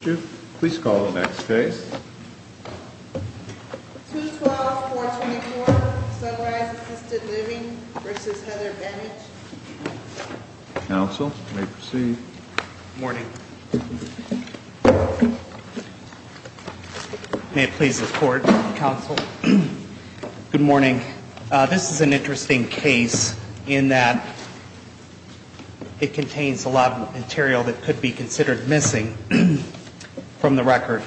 Issue, please call the next case. 212-424 Sunrise Assisted Living v. Heather Benich Counsel, you may proceed. Good morning. May it please the Court, Counsel. Good morning. This is an interesting case in that it contains a lot of material that could be considered missing. From the record.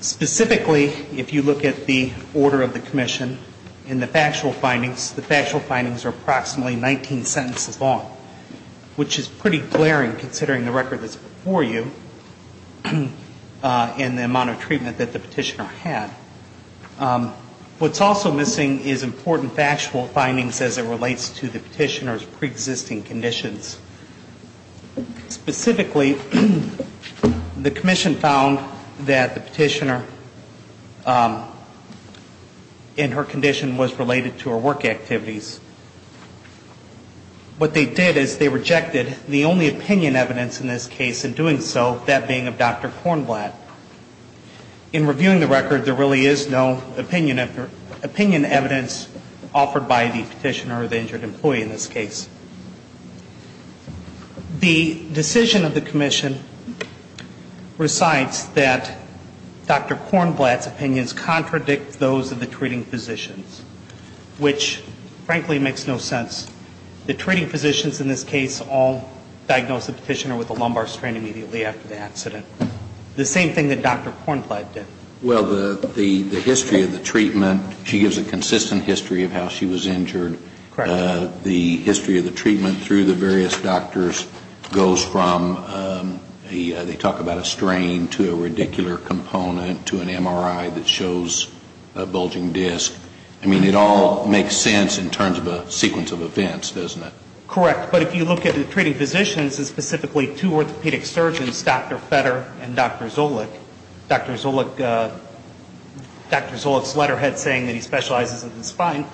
Specifically, if you look at the order of the commission, and the factual findings, the factual findings are approximately 19 sentences long. Which is pretty glaring considering the record that's before you, and the amount of treatment that the petitioner had. What's also missing is important factual findings as it relates to the petitioner's pre-existing conditions. Specifically, the commission found that the petitioner and her condition was related to her work activities. What they did is they rejected the only opinion evidence in this case in doing so, that being of Dr. Kornblatt. In reviewing the record, there really is no opinion evidence offered by the petitioner or the injured employee in this case. The decision of the commission recites that Dr. Kornblatt's opinions contradict those of the treating physicians. Which, frankly, makes no sense. The treating physicians in this case all diagnosed the petitioner with a lumbar strain immediately after the accident. The same thing that Dr. Kornblatt did. Well, the history of the treatment, she gives a consistent history of how she was injured. Correct. And the history of the treatment through the various doctors goes from, they talk about a strain to a radicular component to an MRI that shows a bulging disc. I mean, it all makes sense in terms of a sequence of events, doesn't it? Correct. But if you look at the treating physicians, and specifically two orthopedic surgeons, Dr. Fetter and Dr. Zolich, Dr. Zolich's letterhead saying that he specializes in the spine,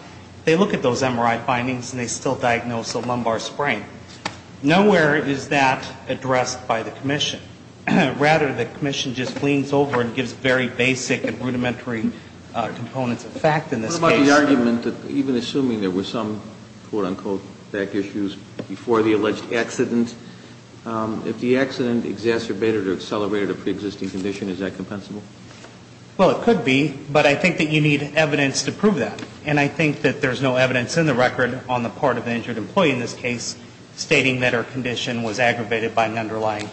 they look at those MRI findings and they still diagnose a lumbar strain. Nowhere is that addressed by the commission. Rather, the commission just leans over and gives very basic and rudimentary components of fact in this case. What about the argument that even assuming there were some quote-unquote back issues before the alleged accident, if the accident exacerbated or accelerated a pre-existing condition, is that compensable? Well, it could be, but I think that you need evidence to prove that. And I think that there's no evidence in the record on the part of the injured employee in this case stating that her condition was aggravated by an underlying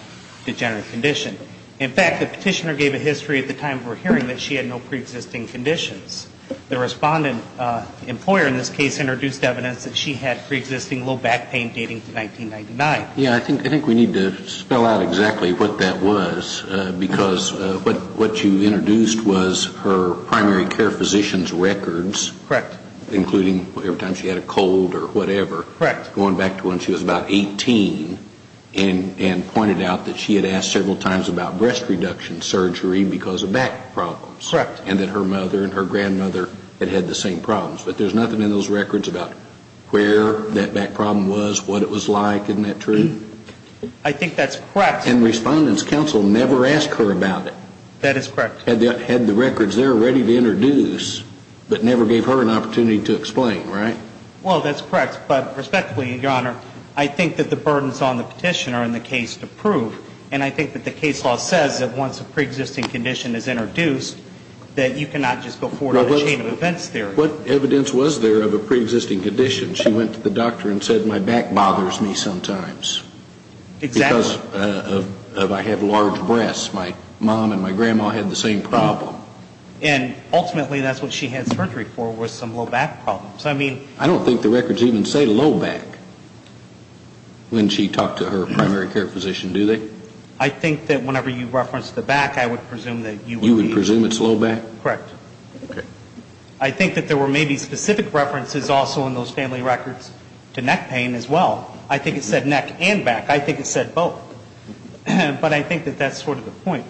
degenerative condition. In fact, the petitioner gave a history at the time of her hearing that she had no pre-existing conditions. The respondent employer in this case introduced evidence that she had pre-existing low back pain dating to 1999. And I think we need to spell out exactly what that was, because what you introduced was her primary care physician's records. Correct. Including every time she had a cold or whatever. Correct. Going back to when she was about 18 and pointed out that she had asked several times about breast reduction surgery because of back problems. Correct. And that her mother and her grandmother had had the same problems. But there's nothing in those records about where that back problem was, what it was like. Isn't that true? I think that's correct. And Respondent's Counsel never asked her about it. That is correct. Had the records there ready to introduce, but never gave her an opportunity to explain, right? Well, that's correct. But respectively, Your Honor, I think that the burdens on the petitioner in the case to prove, and I think that the case law says that once a pre-existing condition is introduced, that you cannot just go forward with a chain of events theory. What evidence was there of a pre-existing condition? She went to the doctor and said, my back bothers me sometimes. Exactly. Because of I have large breasts. My mom and my grandma had the same problem. And ultimately that's what she had surgery for was some low back problems. I mean... I don't think the records even say low back when she talked to her primary care physician, do they? I think that whenever you reference the back, I would presume that you would be... You would presume it's low back? Correct. Okay. I think that there were maybe specific references also in those family records to neck pain as well. I think it said neck and back. I think it said both. But I think that that's sort of the point.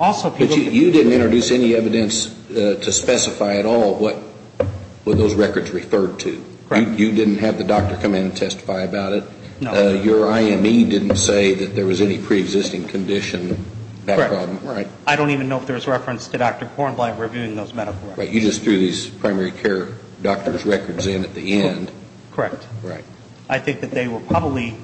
Also... But you didn't introduce any evidence to specify at all what those records referred to. Correct. You didn't have the doctor come in and testify about it. No. Your IME didn't say that there was any pre-existing condition, back problem. Correct. Right. I don't even know if there's reference to Dr. Kornblatt reviewing those medical records. Right. You just threw these primary care doctor's records in at the end. Correct. Right. I think that they were probably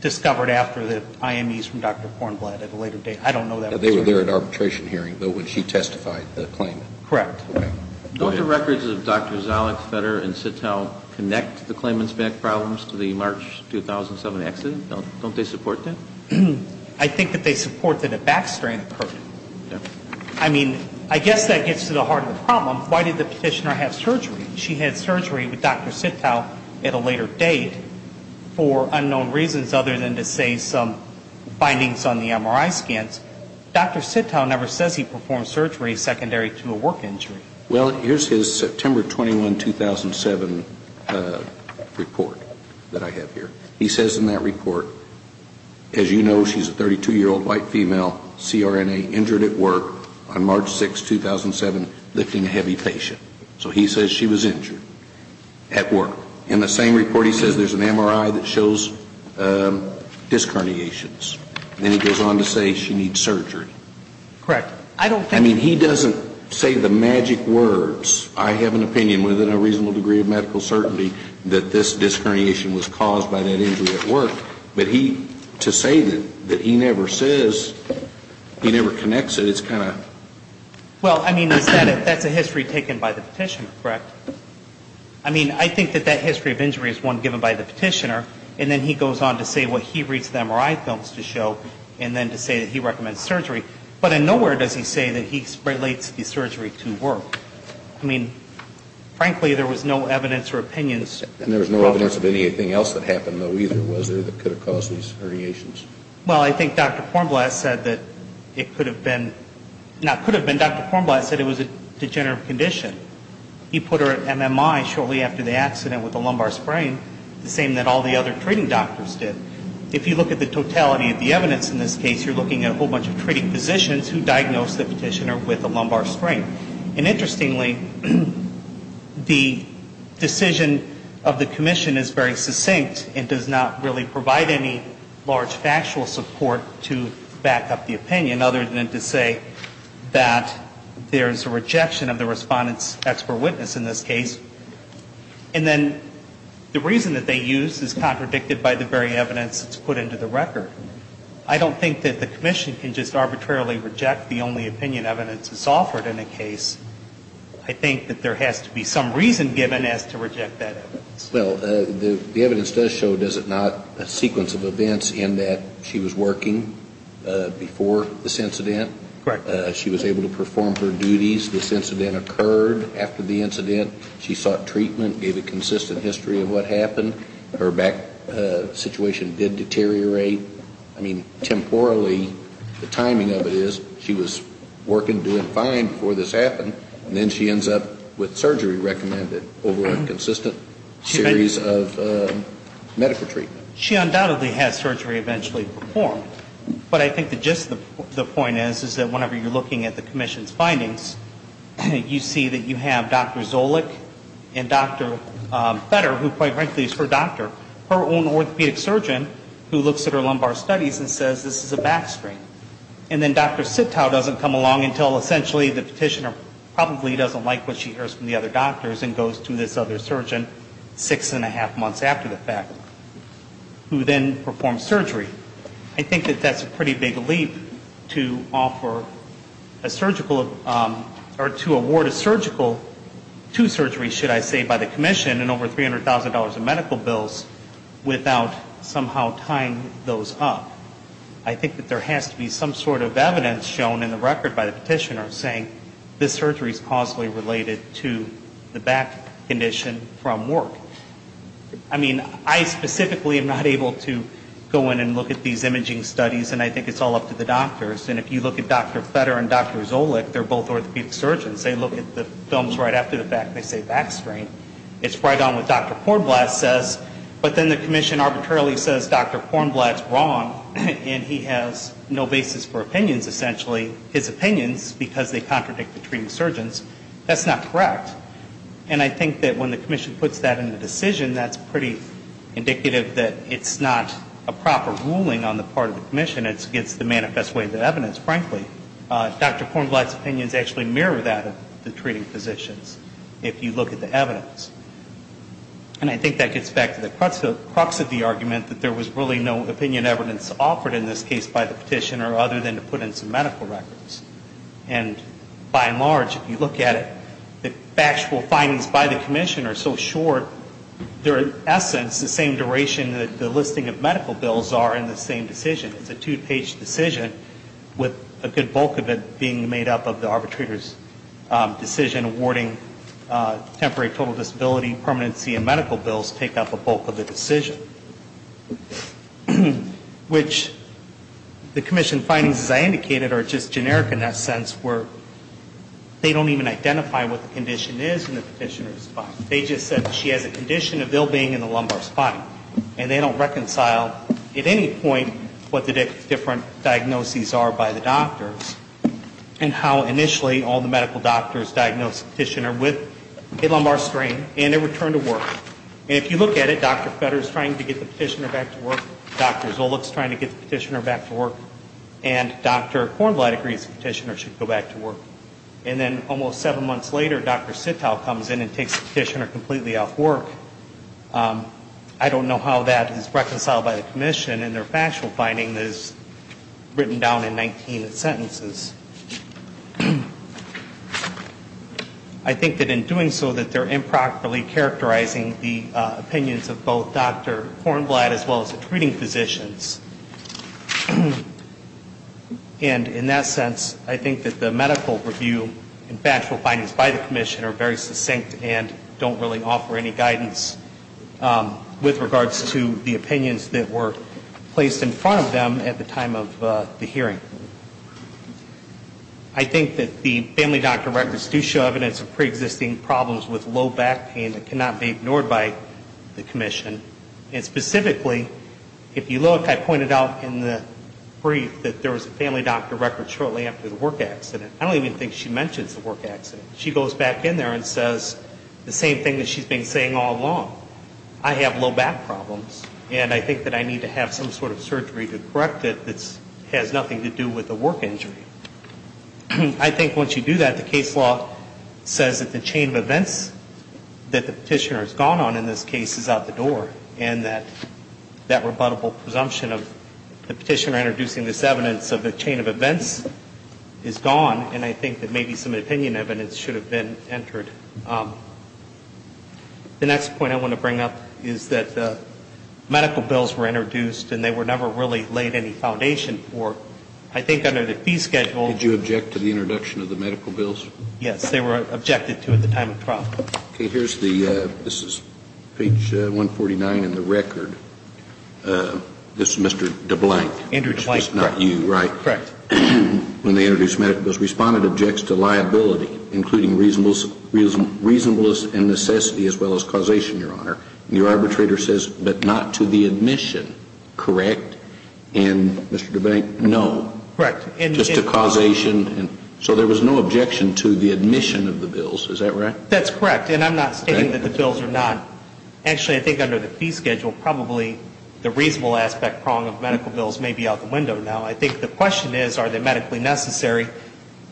discovered after the IMEs from Dr. Kornblatt at a later date. I don't know that... They were there at arbitration hearing, though, when she testified the claim. Okay. Don't the records of Dr. Zalich, Fetter, and Sitow connect the claimant's back problems to the March 2007 accident? Don't they support that? I think that they support that a back strain occurred. Okay. I mean, I guess that gets to the heart of the problem. Why did the petitioner have surgery? She had surgery with Dr. Sitow at a later date for unknown reasons other than to say some bindings on the MRI scans. Dr. Sitow never says he performed surgery secondary to a work injury. Well, here's his September 21, 2007 report that I have here. He says in that report, as you know, she's a 32-year-old white female, CRNA, injured at work on March 6, 2007, lifting a heavy patient. So he says she was injured at work. In the same report, he says there's an MRI that shows disc herniations. Then he goes on to say she needs surgery. Correct. I don't think... I mean, he doesn't say the magic words. I have an opinion within a reasonable degree of medical certainty that this disc herniation was caused by that injury at work. But he, to say that he never says, he never connects it, it's kind of... Well, I mean, that's a history taken by the petitioner, correct? I mean, I think that that history of injury is one given by the petitioner. And then he goes on to say what he reads the MRI films to show and then to say that he recommends surgery. But in nowhere does he say that he relates the surgery to work. I mean, frankly, there was no evidence or opinions. And there was no evidence of anything else that happened, though, either, was there, that could have caused these herniations? Well, I think Dr. Kornblatt said that it could have been. Now, it could have been. Dr. Kornblatt said it was a degenerative condition. He put her at MMI shortly after the accident with the lumbar sprain, the same that all the other treating doctors did. If you look at the totality of the evidence in this case, you're looking at a whole bunch of treating physicians who diagnosed the petitioner with a lumbar sprain. And interestingly, the decision of the commission is very succinct and does not really provide any large factual support to back up the opinion, other than to say that there's a rejection of the Respondent's expert witness in this case. And then the reason that they use is contradicted by the very evidence that's put into the record. I don't think that the commission can just arbitrarily reject the only opinion evidence that's offered in a case. I think that there has to be some reason given as to reject that evidence. Well, the evidence does show, does it not, a sequence of events in that she was working before this incident? Correct. She was able to perform her duties. This incident occurred after the incident. She sought treatment, gave a consistent history of what happened. Her back situation did deteriorate. I mean, temporally, the timing of it is she was working, doing fine before this happened. And then she ends up with surgery recommended over a consistent series of medical treatment. She undoubtedly had surgery eventually performed. But I think the gist of the point is, is that whenever you're looking at the commission's findings, you see that you have Dr. Zolich and Dr. Fetter, who quite frankly is her doctor, her own orthopedic surgeon who looks at her lumbar studies and says this is a back strain. And then Dr. Sitow doesn't come along until essentially the petitioner probably doesn't like what she hears from the other doctors and goes to this other surgeon six and a half months after the fact, who then performs surgery. I think that that's a pretty big leap to offer a surgical or to award a surgical to surgery, should I say, by the commission and over $300,000 in medical bills without somehow tying those up. I think that there has to be some sort of evidence shown in the record by the petitioner saying this surgery is causally related to the back condition from work. I mean, I specifically am not able to go in and look at these imaging studies, and I think it's all up to the doctors. And if you look at Dr. Fetter and Dr. Zolich, they're both orthopedic surgeons. They look at the films right after the fact and they say back strain. It's right on what Dr. Kornblatt says, but then the commission arbitrarily says Dr. Kornblatt's wrong, and he has no basis for opinions, essentially. His opinions, because they contradict the treating surgeons, that's not correct. And I think that when the commission puts that in the decision, that's pretty indicative that it's not a proper ruling on the part of the commission. It's against the manifest way of the evidence, frankly. Dr. Kornblatt's opinions actually mirror that of the treating physicians, if you look at the evidence. And I think that gets back to the crux of the argument, that there was really no opinion evidence offered in this case by the petitioner other than to put in some medical records. And by and large, if you look at it, the factual findings by the commission are so short, they're in essence the same duration that the listing of medical bills are in the same decision. It's a two-page decision with a good bulk of it being made up of the arbitrator's decision awarding temporary total disability, permanency, and medical bills take up a bulk of the decision. Which the commission findings, as I indicated, are just generic in that sense where they don't even identify what the condition is in the petitioner's body. They just said she has a condition of ill being in the lumbar spine. And they don't reconcile at any point what the different diagnoses are by the doctors and how initially all the medical doctors diagnosed the petitioner with a lumbar strain and a return to work. And if you look at it, Dr. Fetter is trying to get the petitioner back to work. Dr. Zolich is trying to get the petitioner back to work. And Dr. Kornblatt agrees the petitioner should go back to work. And then almost seven months later, Dr. Sitow comes in and takes the petitioner completely off work. I don't know how that is reconciled by the commission. And their factual finding is written down in 19 sentences. I think that in doing so that they're improperly characterizing the opinions of both Dr. Kornblatt as well as the treating physicians. And in that sense, I think that the medical review and factual findings by the commission are very succinct and don't really offer any guidance with regards to the opinions that were placed in front of them at the time of the hearing. I think that the family doctor records do show evidence of preexisting problems with low back pain that cannot be ignored by the commission. And specifically, if you look, I pointed out in the brief that there was a family doctor record shortly after the work accident. I don't even think she mentions the work accident. She goes back in there and says the same thing that she's been saying all along. I have low back problems, and I think that I need to have some sort of surgery to correct it that has nothing to do with the work injury. I think once you do that, the case law says that the chain of events that the petitioner has gone on in this case is out the door. And that that rebuttable presumption of the petitioner introducing this evidence of the chain of events is gone. And I think that maybe some opinion evidence should have been entered. The next point I want to bring up is that the medical bills were introduced, and they were never really laid any foundation for, I think, under the fee schedule. Did you object to the introduction of the medical bills? Yes, they were objected to at the time of trial. Okay. Here's the, this is page 149 in the record. This is Mr. DeBlank. Andrew DeBlank. Which is not you, right? Correct. When they introduced medical bills, respondent objects to liability, including reasonableness and necessity as well as causation, Your Honor. And your arbitrator says, but not to the admission, correct? And Mr. DeBlank, no. Correct. Just to causation. So there was no objection to the admission of the bills, is that right? Correct. And I'm not stating that the bills are not. Actually, I think under the fee schedule, probably the reasonable aspect prong of medical bills may be out the window now. I think the question is, are they medically necessary?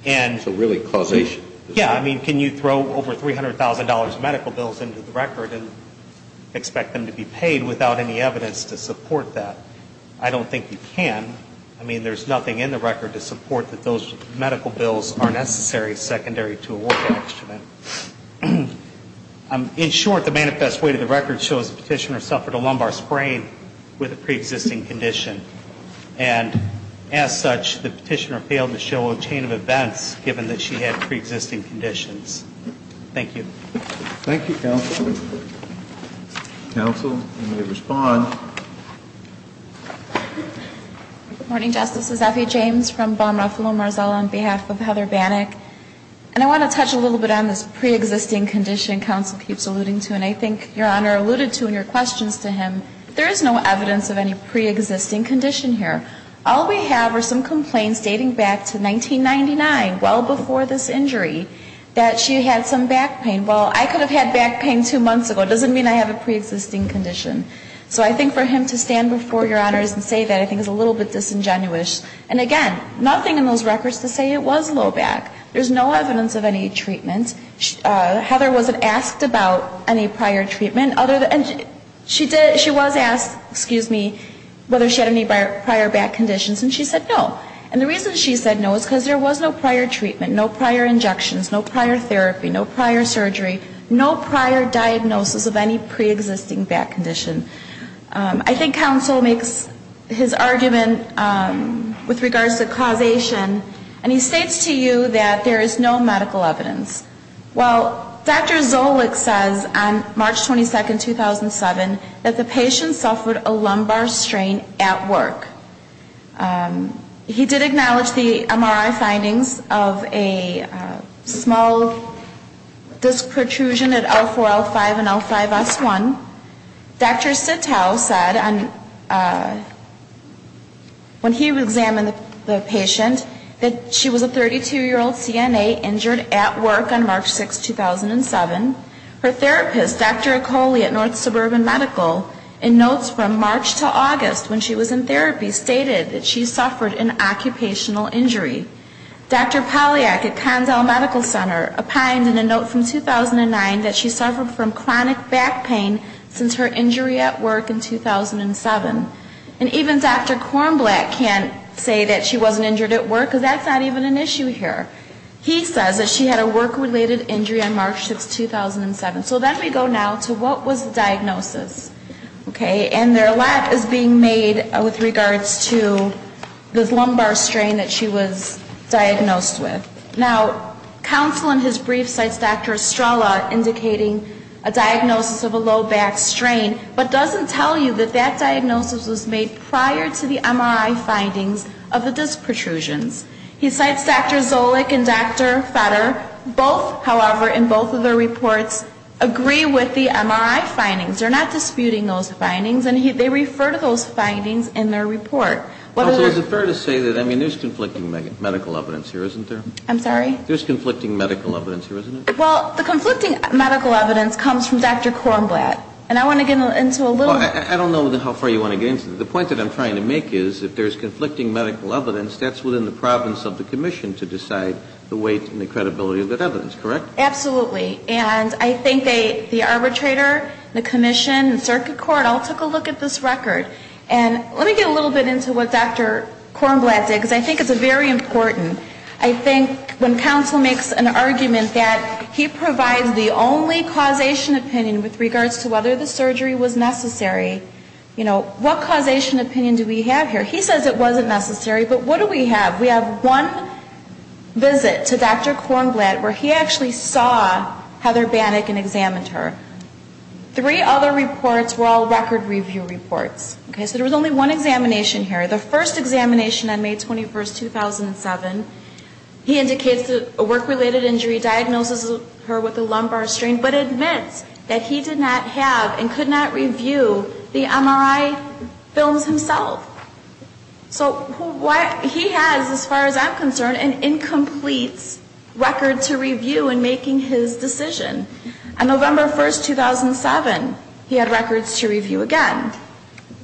So really, causation. Yeah. I mean, can you throw over $300,000 medical bills into the record and expect them to be paid without any evidence to support that? I don't think you can. I mean, there's nothing in the record to support that those medical bills are necessary secondary to award action. In short, the manifest way to the record shows the petitioner suffered a lumbar sprain with a preexisting condition. And as such, the petitioner failed to show a chain of events, given that she had preexisting conditions. Thank you. Thank you, counsel. Counsel, you may respond. Good morning, Justice. This is Effie James from Bonne Ruffalo Marzal on behalf of Heather Bannock. And I want to touch a little bit on this preexisting condition counsel keeps alluding to. And I think Your Honor alluded to in your questions to him, there is no evidence of any preexisting condition here. All we have are some complaints dating back to 1999, well before this injury, that she had some back pain. Well, I could have had back pain two months ago. It doesn't mean I have a preexisting condition. So I think for him to stand before Your Honors and say that I think is a little bit disingenuous. And again, nothing in those records to say it was low back. There is no evidence of any treatment. Heather wasn't asked about any prior treatment. She was asked, excuse me, whether she had any prior back conditions, and she said no. And the reason she said no is because there was no prior treatment, no prior injections, no prior therapy, no prior surgery, no prior diagnosis of any preexisting back condition. I think counsel makes his argument with regards to causation, and he states to you that there is no medical evidence. Well, Dr. Zolich says on March 22, 2007, that the patient suffered a lumbar strain at work. He did acknowledge the MRI findings of a small disc protrusion at L4, L5, and L5, S1. Dr. Sittow said when he examined the patient that she was a 32-year-old CNA injured at work on March 6, 2007. Her therapist, Dr. Ecole at North Suburban Medical, in notes from March to August when she was in therapy, stated that she suffered an occupational injury. Dr. Poliak at Condell Medical Center opined in a note from 2009 that she suffered from chronic back pain since she was a baby. Dr. Zolich mentions her injury at work in 2007. And even Dr. Kornblatt can't say that she wasn't injured at work, because that's not even an issue here. He says that she had a work-related injury on March 6, 2007. So then we go now to what was the diagnosis, okay? And there a lot is being made with regards to this lumbar strain that she was diagnosed with. Now, counsel in his brief cites Dr. Estrella indicating a diagnosis of a low back strain, but doesn't tell you that that diagnosis was made prior to the MRI findings of the disc protrusions. He cites Dr. Zolich and Dr. Fetter. Both, however, in both of their reports, agree with the MRI findings. They're not disputing those findings, and they refer to those findings in their report. Counsel, is it fair to say that, I mean, there's conflicting medical evidence here, isn't there? I'm sorry? There's conflicting medical evidence here, isn't there? Well, the conflicting medical evidence comes from Dr. Kornblatt, and I want to get into a little bit. Well, I don't know how far you want to get into it. The point that I'm trying to make is if there's conflicting medical evidence, that's within the province of the commission to decide the weight and the credibility of that evidence, correct? Absolutely. And I think the arbitrator, the commission, the circuit court all took a look at this record. And let me get a little bit into what Dr. Kornblatt did, because I think it's very important. I think when counsel makes an argument that he provides the only causation opinion with regards to whether the surgery was necessary, you know, what causation opinion do we have here? He says it wasn't necessary, but what do we have? We have one visit to Dr. Kornblatt where he actually saw Heather Banik and examined her. Three other reports were all record review reports. Okay, so there was only one examination here. The first examination on May 21, 2007, he indicates a work-related injury, diagnoses her with a lumbar strain, but admits that he did not have and could not review the MRI films himself. So he has, as far as I'm concerned, an incomplete record to review in making his decision. On November 1, 2007, he had records to review again.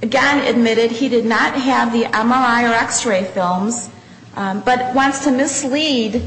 Again, admitted he did not have the MRI or X-ray films, but wants to mislead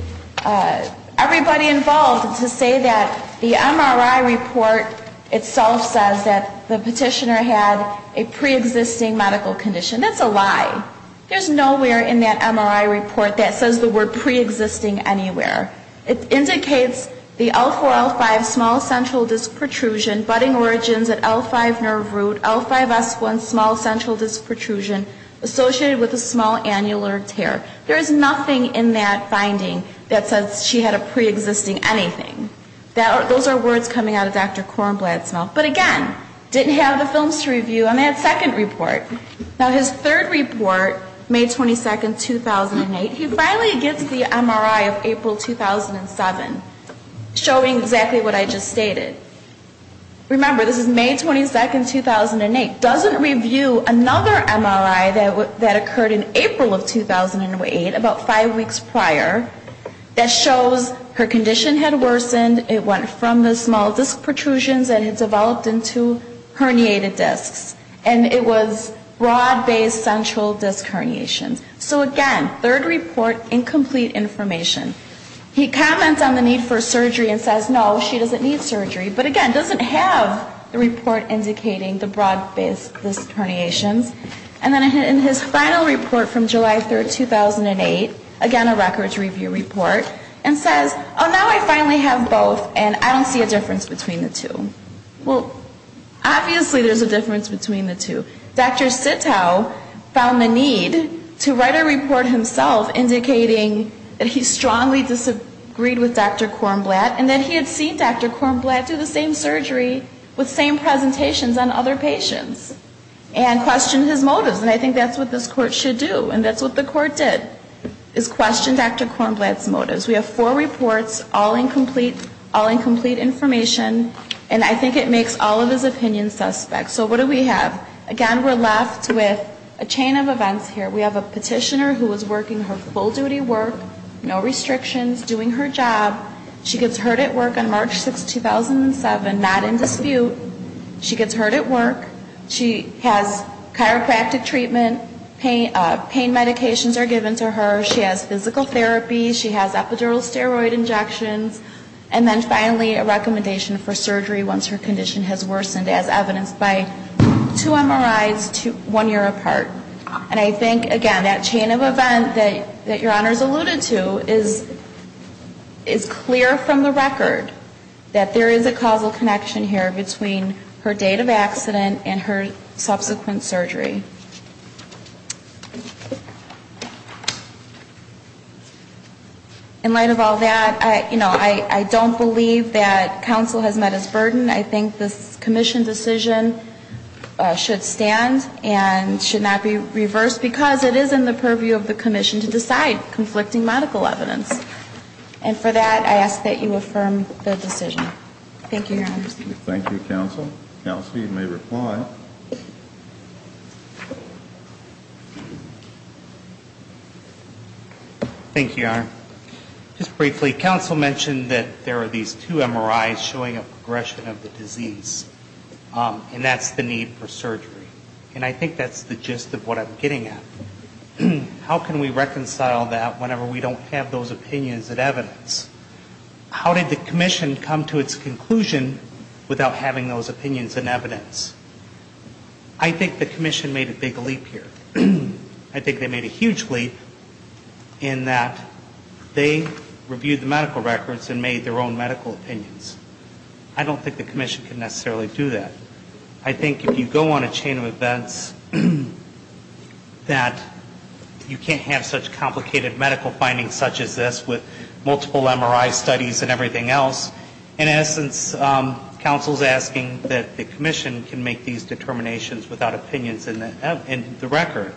everybody involved to say that the MRI report itself says that the petitioner had a preexisting medical condition. That's a lie. There's nowhere in that MRI report that says the word preexisting anywhere. It indicates the L4, L5 small central disc protrusion, budding origins at L5 nerve root, L5 S1 small central disc protrusion associated with a small annular tear. There is nothing in that finding that says she had a preexisting anything. Those are words coming out of Dr. Kornblatt's mouth. But again, didn't have the films to review on that second report. Now, his third report, May 22, 2008, he finally gets the MRI of April, 2007, showing exactly what I just stated. Remember, this is May 22, 2008. Doesn't review another MRI that occurred in April of 2008, about five weeks prior, that shows her condition had worsened, it went from the small disc protrusions that had developed to the small central disc protrusion. And it was broad-based central disc herniations. So again, third report, incomplete information. He comments on the need for surgery and says, no, she doesn't need surgery. But again, doesn't have the report indicating the broad-based disc herniations. And then in his final report from July 3, 2008, again a records review report, and says, oh, now I finally have both and I don't see a difference between the two. Well, obviously there's a difference between the two. Dr. Sittow found the need to write a report himself indicating that he strongly disagreed with Dr. Kornblatt and that he had seen Dr. Kornblatt do the same surgery with same presentations on other patients and questioned his motives. And I think that's what this Court should do. And that's what the Court did, is question Dr. Kornblatt's motives. We have four reports, all incomplete information, and I think it makes all of his opinions suspect. So what do we have? Again, we're left with a chain of events here. We have a petitioner who was working her full-duty work, no restrictions, doing her job. She gets hurt at work on March 6, 2007, not in dispute. She gets hurt at work. She has chiropractic treatment. Pain medications are given to her. She has physical therapy. She has epidural steroid injections. And then finally, a recommendation for surgery once her condition has worsened, as evidenced by two MRIs one year apart. And I think, again, that chain of events that Your Honors alluded to is clear from the record that there is a causal connection here between her date of accident and her subsequent surgery. In light of all that, you know, I don't believe that counsel has met its burden. I think this Commission decision should stand and should not be reversed, because it is in the purview of the Commission to decide conflicting medical evidence. And for that, I ask that you affirm the decision. Thank you, Your Honors. Thank you, counsel. Counsel, you may reply. Thank you, Your Honor. Just briefly, counsel mentioned that there are these two MRIs showing a progression of the disease. And that's the need for surgery. And I think that's the gist of what I'm getting at. How can we reconcile that whenever we don't have those opinions and evidence? How did the Commission come to its conclusion without having those opinions and evidence? I think the Commission made a big leap here. I think they made a huge leap in that they reviewed the medical records and made their own medical opinions. I don't think the Commission can necessarily do that. I think if you go on a chain of events that you can't have such complicated medical findings such as this with multiple MRI studies and everything else, in essence, counsel is asking that the Commission can make these determinations without opinions in the record.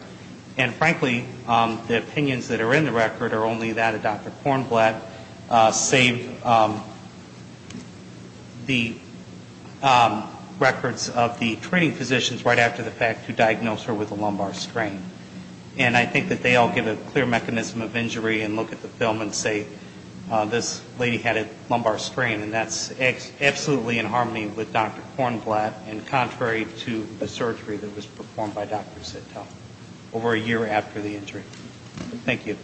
And frankly, the opinions that are in the record are only that of Dr. Kornblatt, save the records of the treating physicians right after the fact who diagnosed her with a lumbar strain. And I think that they all give a clear mechanism of injury and look at the film and say, this lady had a lumbar strain. And that's absolutely in harmony with Dr. Kornblatt and contrary to the surgery that was performed by Dr. Sitow over a year after the injury. Thank you.